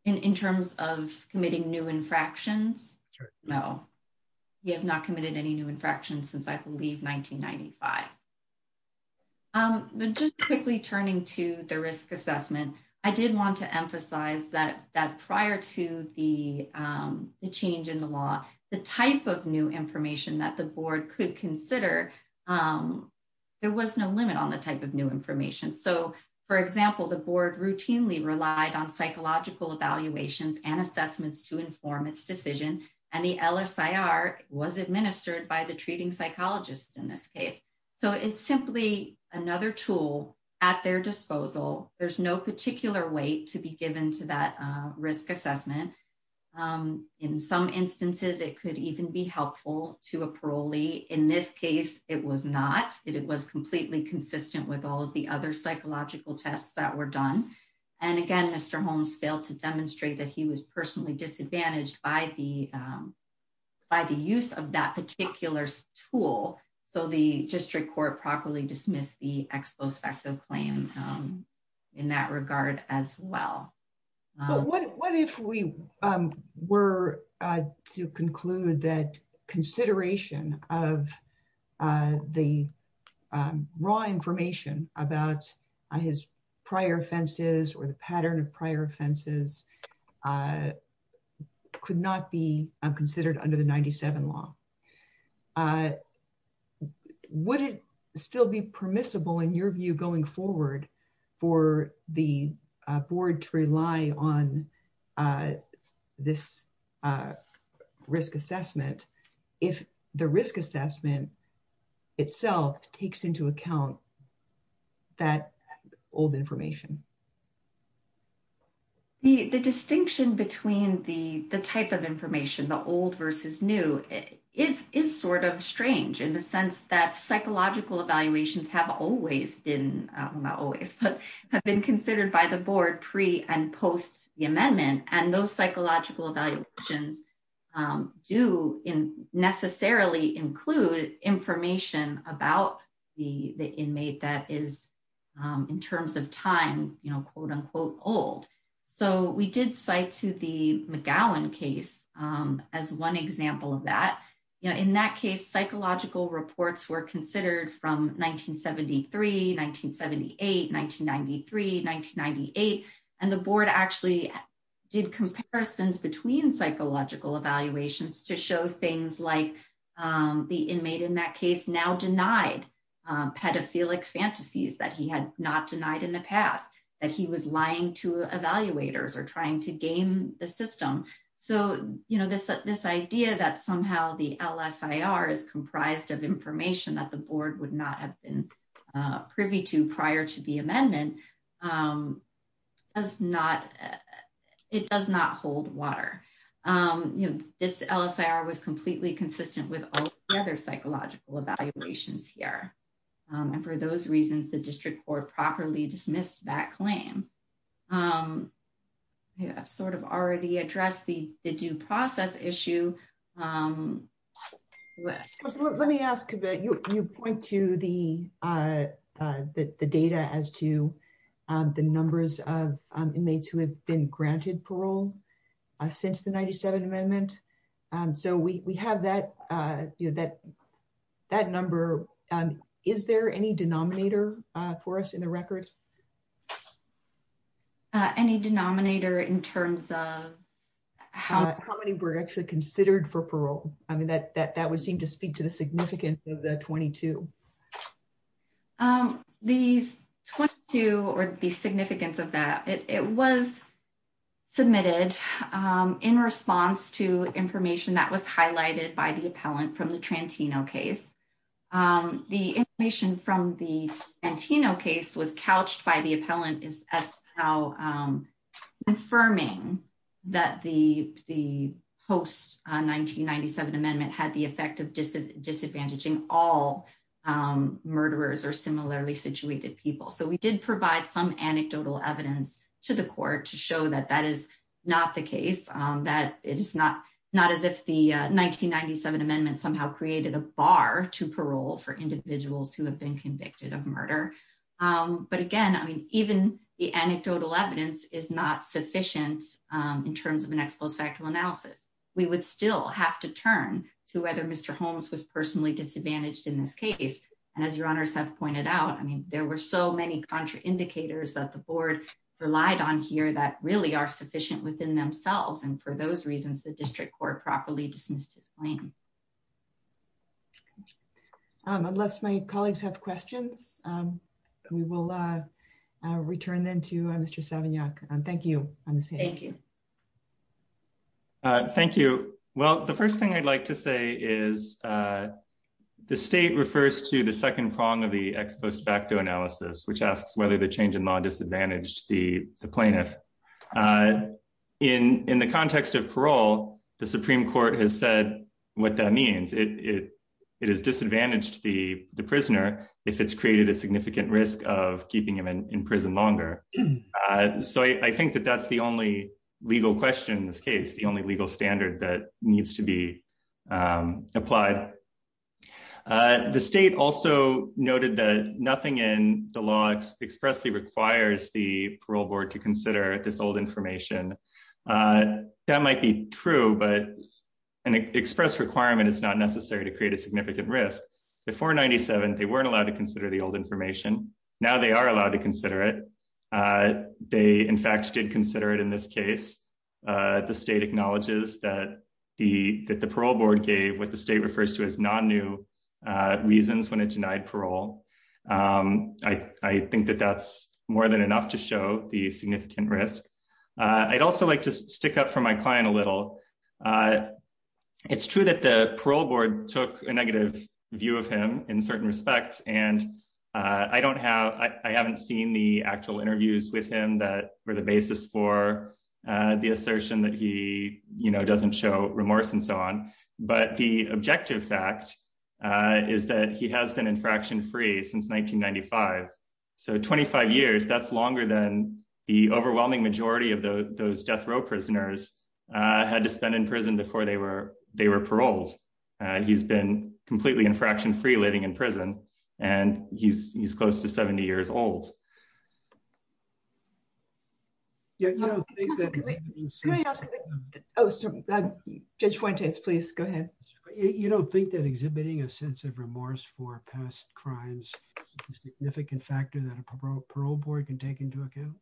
In terms of committing new infractions? No, he has not committed any new infractions since, I believe, 1995. But just quickly turning to the risk assessment, I did want to emphasize that prior to the change in the law, the type of new information that the board could consider, there was no limit on the type of new information. So, for example, the board routinely relied on psychological evaluations and assessments to inform its decision, and the LSIR was administered by the treating psychologist in this case. So, it's simply another tool at their disposal. There's no particular weight to be given to that risk assessment. In some instances, it could even be helpful to a parolee. In this case, it was not. It was completely consistent with all of the other psychological tests that were done. And again, Mr. Holmes failed to demonstrate that he was tool. So, the district court properly dismissed the ex post facto claim in that regard as well. But what if we were to conclude that consideration of the raw information about his prior offenses or the pattern of prior offenses could not be considered under the 97 law? Would it still be permissible in your view going forward for the board to rely on this risk assessment if the risk assessment itself takes into account that old information? The distinction between the type of information, the old versus new, is sort of strange in the sense that psychological evaluations have always been, not always, but have been considered by the board pre and post the amendment. And those psychological evaluations do necessarily include information about the inmate that is, in terms of time, quote unquote old. So, we did cite to the McGowan case as one example of that. In that case, psychological reports were considered from 1973, 1978, 1993, 1998. And the board actually did comparisons between psychological evaluations to things like the inmate in that case now denied pedophilic fantasies that he had not denied in the past, that he was lying to evaluators or trying to game the system. So, this idea that somehow the LSIR is comprised of information that the board would not have been privy to prior to completely consistent with other psychological evaluations here. And for those reasons, the district board properly dismissed that claim. I've sort of already addressed the due process issue. Let me ask, you point to the data as to the numbers of inmates who have been granted parole since the 97th amendment. So, we have that number. Is there any denominator for us in the record? Any denominator in terms of how many were actually considered for parole? I mean, that would seem to speak to the significance of the 22. These 22 or the significance of that, it was submitted in response to information that was highlighted by the appellant from the Trantino case. The information from the Trantino case was couched by the appellant as how confirming that the post 1997 amendment had the effect of disadvantaging all murderers or similarly situated people. So, we did provide some anecdotal evidence to the court to show that that is not the case, that it is not as if the 1997 amendment somehow created a bar to parole for individuals who have been convicted of murder. But again, I mean, even the anecdotal evidence is not sufficient in terms of an ex post facto analysis. We would still have to turn to whether Mr. Holmes was personally disadvantaged in this case. And as your honors have pointed out, I mean, there were so many contraindicators that the board relied on here that really are sufficient within themselves. And for those reasons, the district court properly dismissed his claim. Unless my colleagues have questions, we will return then to Mr. Savignac. Thank you. Thank you. Thank you. Well, the first thing I'd like to say is the state refers to the second prong of the ex post facto analysis, which asks whether the change in law disadvantaged the plaintiff. In the context of parole, the Supreme Court has said what that means. It has disadvantaged the prisoner if it's created a significant risk of keeping him in prison longer. So I think that that's the only legal question in this case, the only legal standard that needs to be applied. The state also noted that nothing in the law expressly requires the parole board to consider this old information. That might be true, but an express requirement is not necessary to the 497. They weren't allowed to consider the old information. Now they are allowed to consider it. They, in fact, did consider it in this case. The state acknowledges that the parole board gave what the state refers to as non new reasons when it denied parole. I think that that's more than enough to show the significant risk. I'd also like to stick up for my client a little. It's true that the parole board took a negative view of him in certain respects, and I don't have, I haven't seen the actual interviews with him that were the basis for the assertion that he, you know, doesn't show remorse and so on. But the objective fact is that he has been infraction free since 1995. So 25 years, that's longer than the overwhelming majority of those death row prisoners had to spend in prison before they were paroled. He's been completely infraction free living in prison, and he's close to 70 years old. Judge Fuentes, please go ahead. You don't think that exhibiting a sense of remorse for past crimes is a significant factor that a parole board can take into account?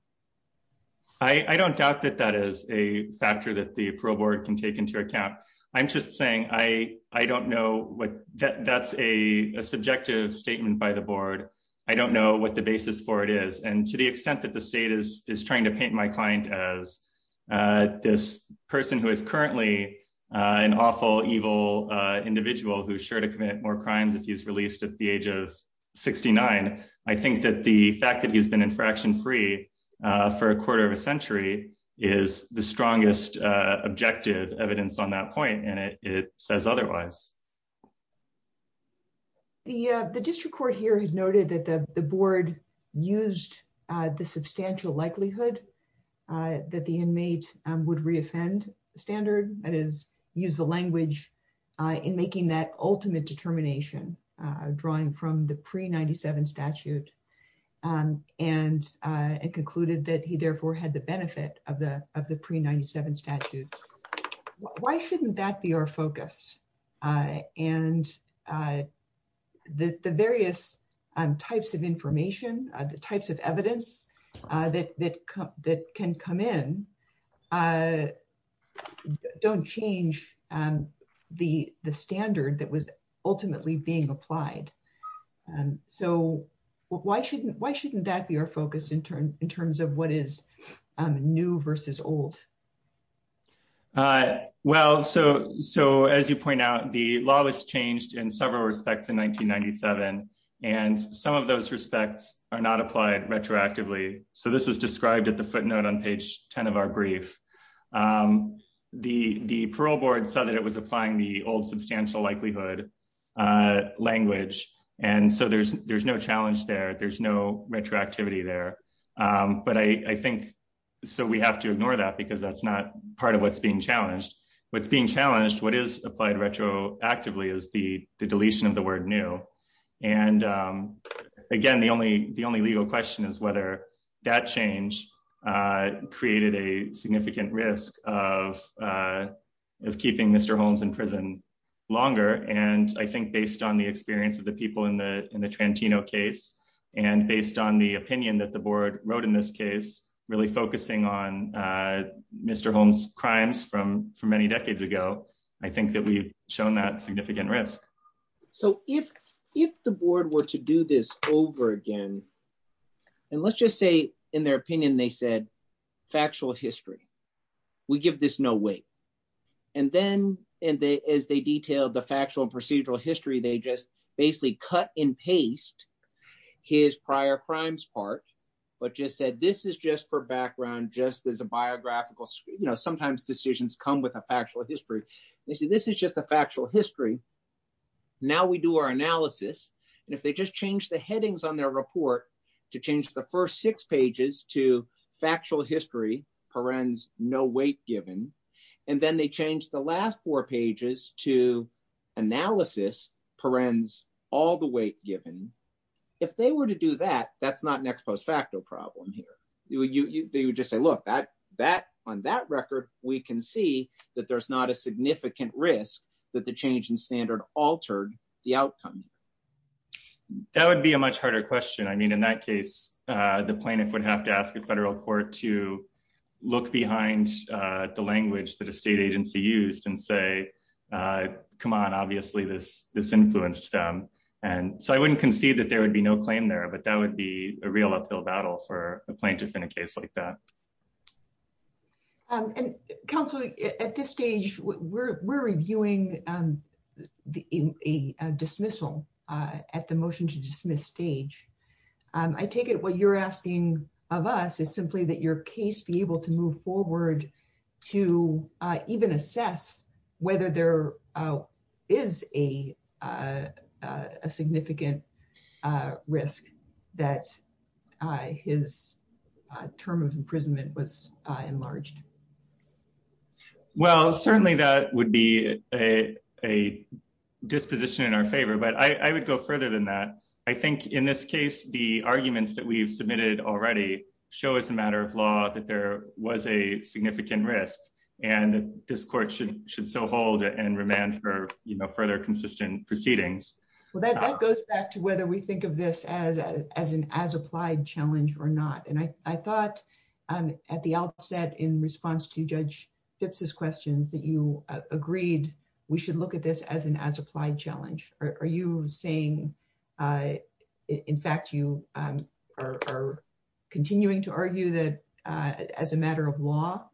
I'm just saying, I don't know what, that's a subjective statement by the board. I don't know what the basis for it is. And to the extent that the state is trying to paint my client as this person who is currently an awful evil individual who's sure to commit more crimes if he's released at the age of 69, I think that the fact that he's been infraction free for a quarter of a century is the strongest objective evidence on that point, and it says otherwise. The district court here has noted that the board used the substantial likelihood that the inmate would reoffend standard, that is, use the language in making that and concluded that he therefore had the benefit of the pre-97 statute. Why shouldn't that be our focus? And the various types of information, the types of evidence that can come in don't change the standard that was ultimately being applied. So why shouldn't that be our focus in terms of what is new versus old? Well, so as you point out, the law was changed in several respects in 1997, and some of those respects are not applied retroactively. So this is described at the footnote on page 10 of our brief. The parole board saw that it was applying the old substantial likelihood language, and so there's no challenge there, there's no retroactivity there. But I think, so we have to ignore that because that's not part of what's being challenged. What's being challenged, what is applied retroactively is the deletion of the word new. And again, the only legal question is whether that change created a significant risk of keeping Mr. Holmes in prison longer. And I think based on the experience of the people in the Trantino case, and based on the opinion that the board wrote in this case, really focusing on Mr. Holmes' crimes from many decades ago, I think that we've shown that significant risk. So if the board were to do this over again, and let's just say in their opinion, they said, factual history, we give this no weight. And then, and they, as they detailed the factual and procedural history, they just basically cut and paste his prior crimes part, but just said, this is just for background, just as a biographical, you know, sometimes decisions come with a factual history. They say, this is just a factual history. Now we do our analysis, and if they just change the headings on their report to change the first six pages to factual history, perens, no weight given, and then they change the last four pages to analysis, perens, all the weight given, if they were to do that, that's not an ex post facto problem here. They would just say, look, on that record, we can see that there's not a significant risk that the change in standard altered the outcome. That would be a much harder question. I mean, in that case, the plaintiff would have to ask a federal court to look behind the language that a state agency used and say, come on, obviously, this, this influenced them. And so I wouldn't concede that there would be no claim there. But that would be a real uphill battle for a plaintiff in a case like that. And counsel, at this stage, we're reviewing a dismissal at the motion to dismiss stage. I take it what you're asking of us is simply that your case be able to move forward to even assess whether there is a significant risk that his term of imprisonment was enlarged? Well, certainly, that would be a a disposition in our favor. But I would go further than that. I think in this case, the arguments that we've submitted already show as a matter of law that there was a significant risk. And this court should should so hold and remand for, you know, further consistent proceedings. Well, that goes back to whether we think of this as, as an as applied challenge or not. And I thought, at the outset, in response to Judge Phipps's questions that you agreed, we should look at this as an as applied challenge. Are you saying, in fact, you are continuing to argue that as a matter of law,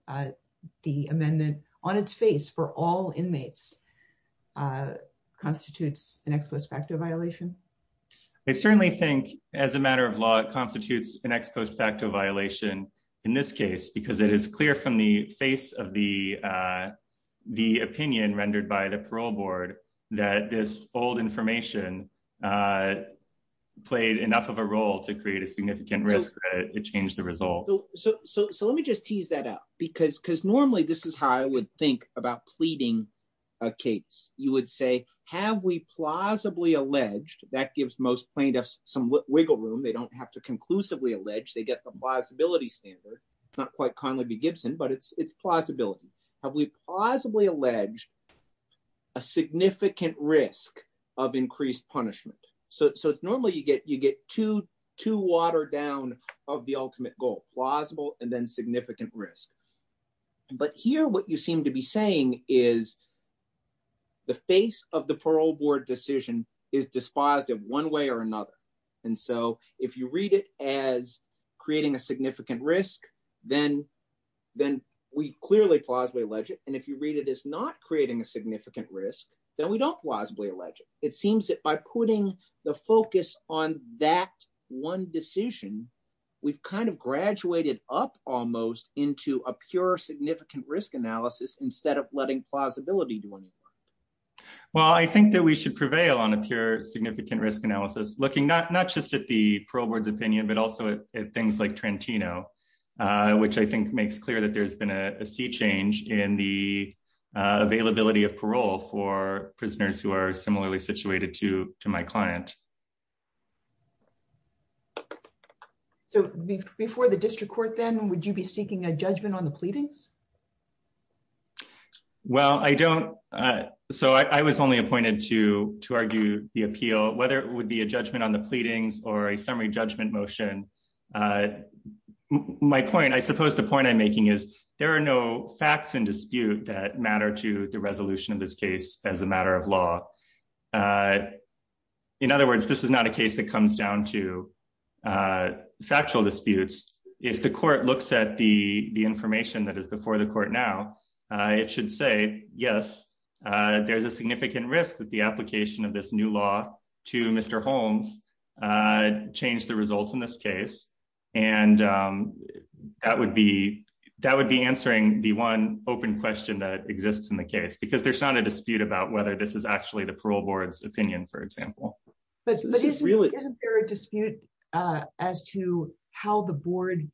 the amendment on its face for all inmates constitutes an ex post facto violation? I certainly think as a matter of law, it constitutes an ex post facto violation in this case, because it is clear from the face of the, the opinion rendered by the parole board, that this old information played enough of a role to create a significant risk. It changed the result. So let me just tease that out. Because because normally, this is how I would think about pleading a case, you would say, have we plausibly alleged that gives most plaintiffs some wiggle room, they don't have to conclusively allege they get the plausibility standard. It's not quite Conley v. Gibson, but it's it's plausibility. Have we plausibly alleged a significant risk of increased punishment. So normally, you get you get to to water down of the ultimate goal, plausible and then significant risk. But here, what you seem to be saying is the face of the parole board decision is despised in one way or another. And so if you read it as creating a significant risk, then then we clearly plausibly alleged and if you read it is not creating a significant risk, then we don't plausibly alleged, it seems that by putting the focus on that one decision, we've kind of graduated up almost into a pure significant risk analysis instead of letting plausibility do anything. Well, I think that we should prevail on a pure significant risk analysis looking not not just at the parole board's opinion, but also at things like Trentino, which I think makes clear that there's been a sea change in the availability of parole for prisoners who are similarly situated to to my client. So before the district court, then would you be seeking a judgment on the pleadings? Well, I don't. So I was only appointed to to argue the appeal, whether it would be a judgment on the pleadings or a summary judgment motion. My point, I suppose the point I'm making is there are no facts in dispute that matter to the resolution of this case as a matter of law. In other words, this is not a case that comes down to factual disputes. If the court looks at the the information that is before the court now, it should say, yes, there's a significant risk that the application of this new law to Mr. Holmes changed the results in this case. And that would be that would be answering the one open question that exists in the case, because there's not a dispute about whether this is actually the parole board's opinion, for example. But it's really a dispute as to how the board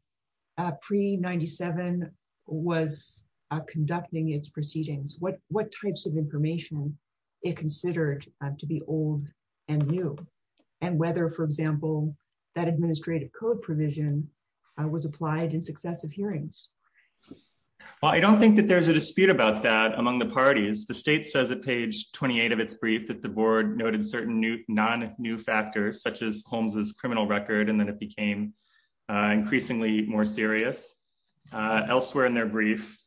pre 97 was conducting its proceedings. What what types of information it considered to be old and new and whether, for example, that administrative code provision was applied in successive hearings. I don't think that there's a dispute about that among the parties. The state says at page 28 of its brief that the board noted certain new non new factors, such as Holmes's criminal record, and then it became increasingly more serious elsewhere in their brief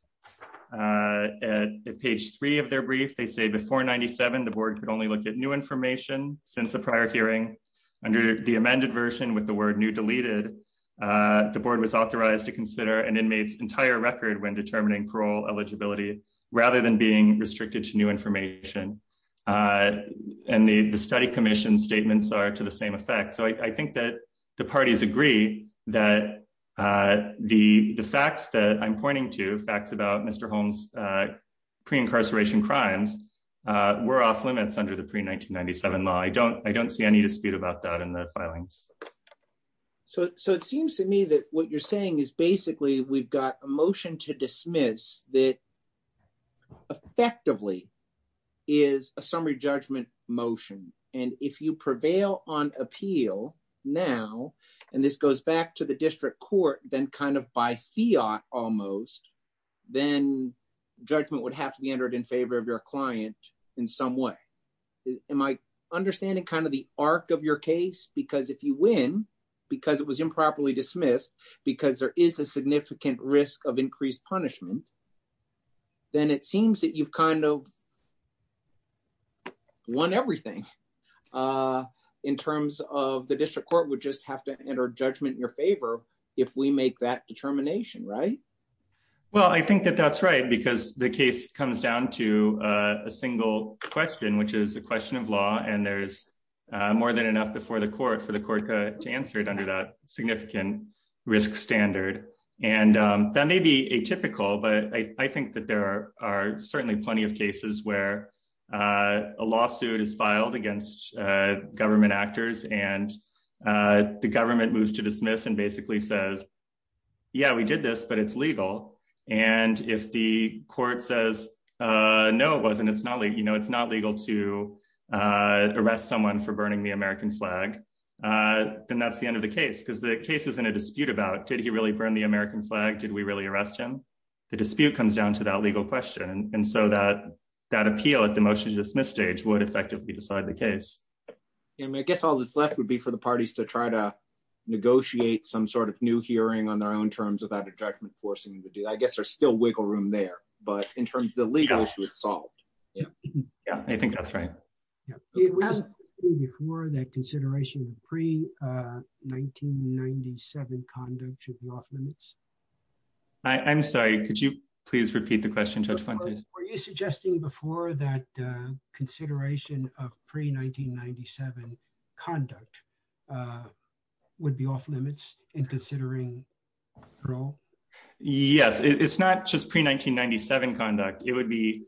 at page three of their brief. They say before 97, the board could only look at new information since the prior hearing under the amended version with the word new deleted. The board was authorized to consider an inmate's entire record when determining parole eligibility rather than being restricted to new information. And the study commission statements are to the same effect. So I think that the parties agree that the facts that I'm pointing to facts about Mr. Holmes, pre incarceration crimes were off limits under the pre 1997 law. I don't I don't need to speak about that in the filings. So it seems to me that what you're saying is basically we've got a motion to dismiss that effectively is a summary judgment motion. And if you prevail on appeal now, and this goes back to the district court, then kind of by fiat almost, then judgment would have to be entered in favor of your client in some way. Am I understanding kind of the arc of your case? Because if you win, because it was improperly dismissed, because there is a significant risk of increased punishment, then it seems that you've kind of won everything in terms of the district court would just have to enter judgment in your favor, if we make that determination, right? Well, I think that that's right, because the case comes down to a single question, which is a question of law. And there's more than enough before the court for the court to answer it under that significant risk standard. And that may be atypical. But I think that there are certainly plenty of cases where a lawsuit is filed against government actors, and the government moves to dismiss and basically says, yeah, we did this, but it's legal. And if the court says, no, it wasn't, it's not, you know, it's not legal to arrest someone for burning the American flag, then that's the end of the case, because the case is in a dispute about did he really burn the American flag? Did we really arrest him? The dispute comes down to that legal question. And so that that appeal at the motion to dismiss stage would effectively decide the case. And I guess all this left would be for parties to try to negotiate some sort of new hearing on their own terms without a judgment forcing them to do that. I guess there's still wiggle room there. But in terms of the legal issue, it's solved. Yeah. Yeah, I think that's right. Yeah. Before that consideration of pre 1997 conduct of lawful limits. I'm sorry, could you please repeat the question? Were you suggesting before that consideration of pre 1997 conduct would be off limits in considering parole? Yes, it's not just pre 1997 conduct, it would be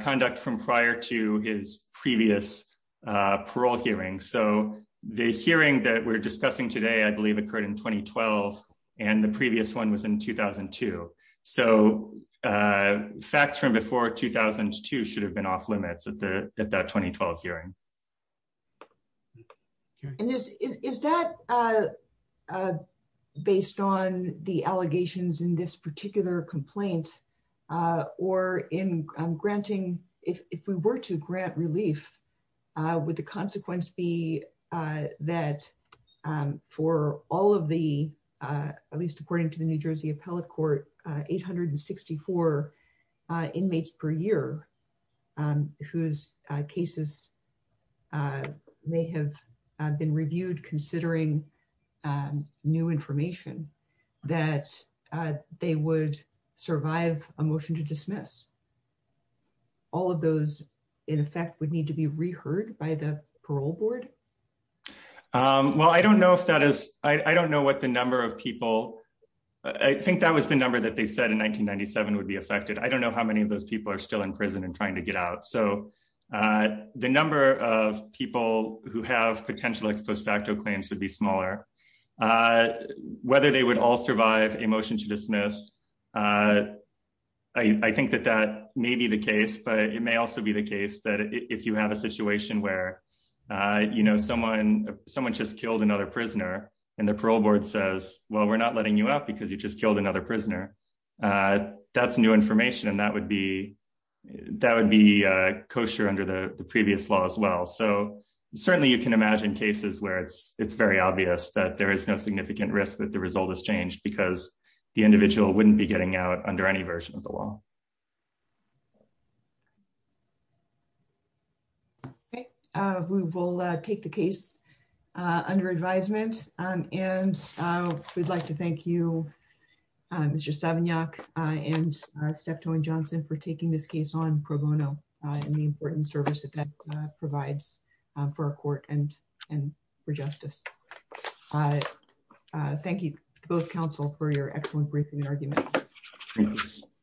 conduct from prior to his previous parole hearing. So the hearing that we're discussing today, I believe occurred in 2012. And the previous one was in 2002. So facts from before 2002 should have been off limits at the at that 2012 hearing. And this is that based on the allegations in this particular complaint, or in granting if we were to grant relief, with the consequence be that for all of the, at least according to the New Jersey Appellate Court, 864 inmates per year, whose cases may have been reviewed considering and new information, that they would survive a motion to dismiss all of those, in effect would need to be reheard by the parole board. Well, I don't know if that is, I don't know what the number of people, I think that was the number that they said in 1997 would be affected. I don't know how many of those people are still in prison and trying to get out. So the number of people who have potential ex post facto claims would be smaller. Whether they would all survive a motion to dismiss, I think that that may be the case, but it may also be the case that if you have a situation where someone just killed another prisoner, and the parole board says, well, we're not letting you up because you just killed another prisoner. That's new information. And that would be kosher under the previous law as well. So that there is no significant risk that the result has changed because the individual wouldn't be getting out under any version of the law. Okay, we will take the case under advisement. And we'd like to thank you, Mr. Savignac, and Steph Towing-Johnson for taking this case on pro bono and the important service that that does. Thank you, both counsel for your excellent briefing and argument.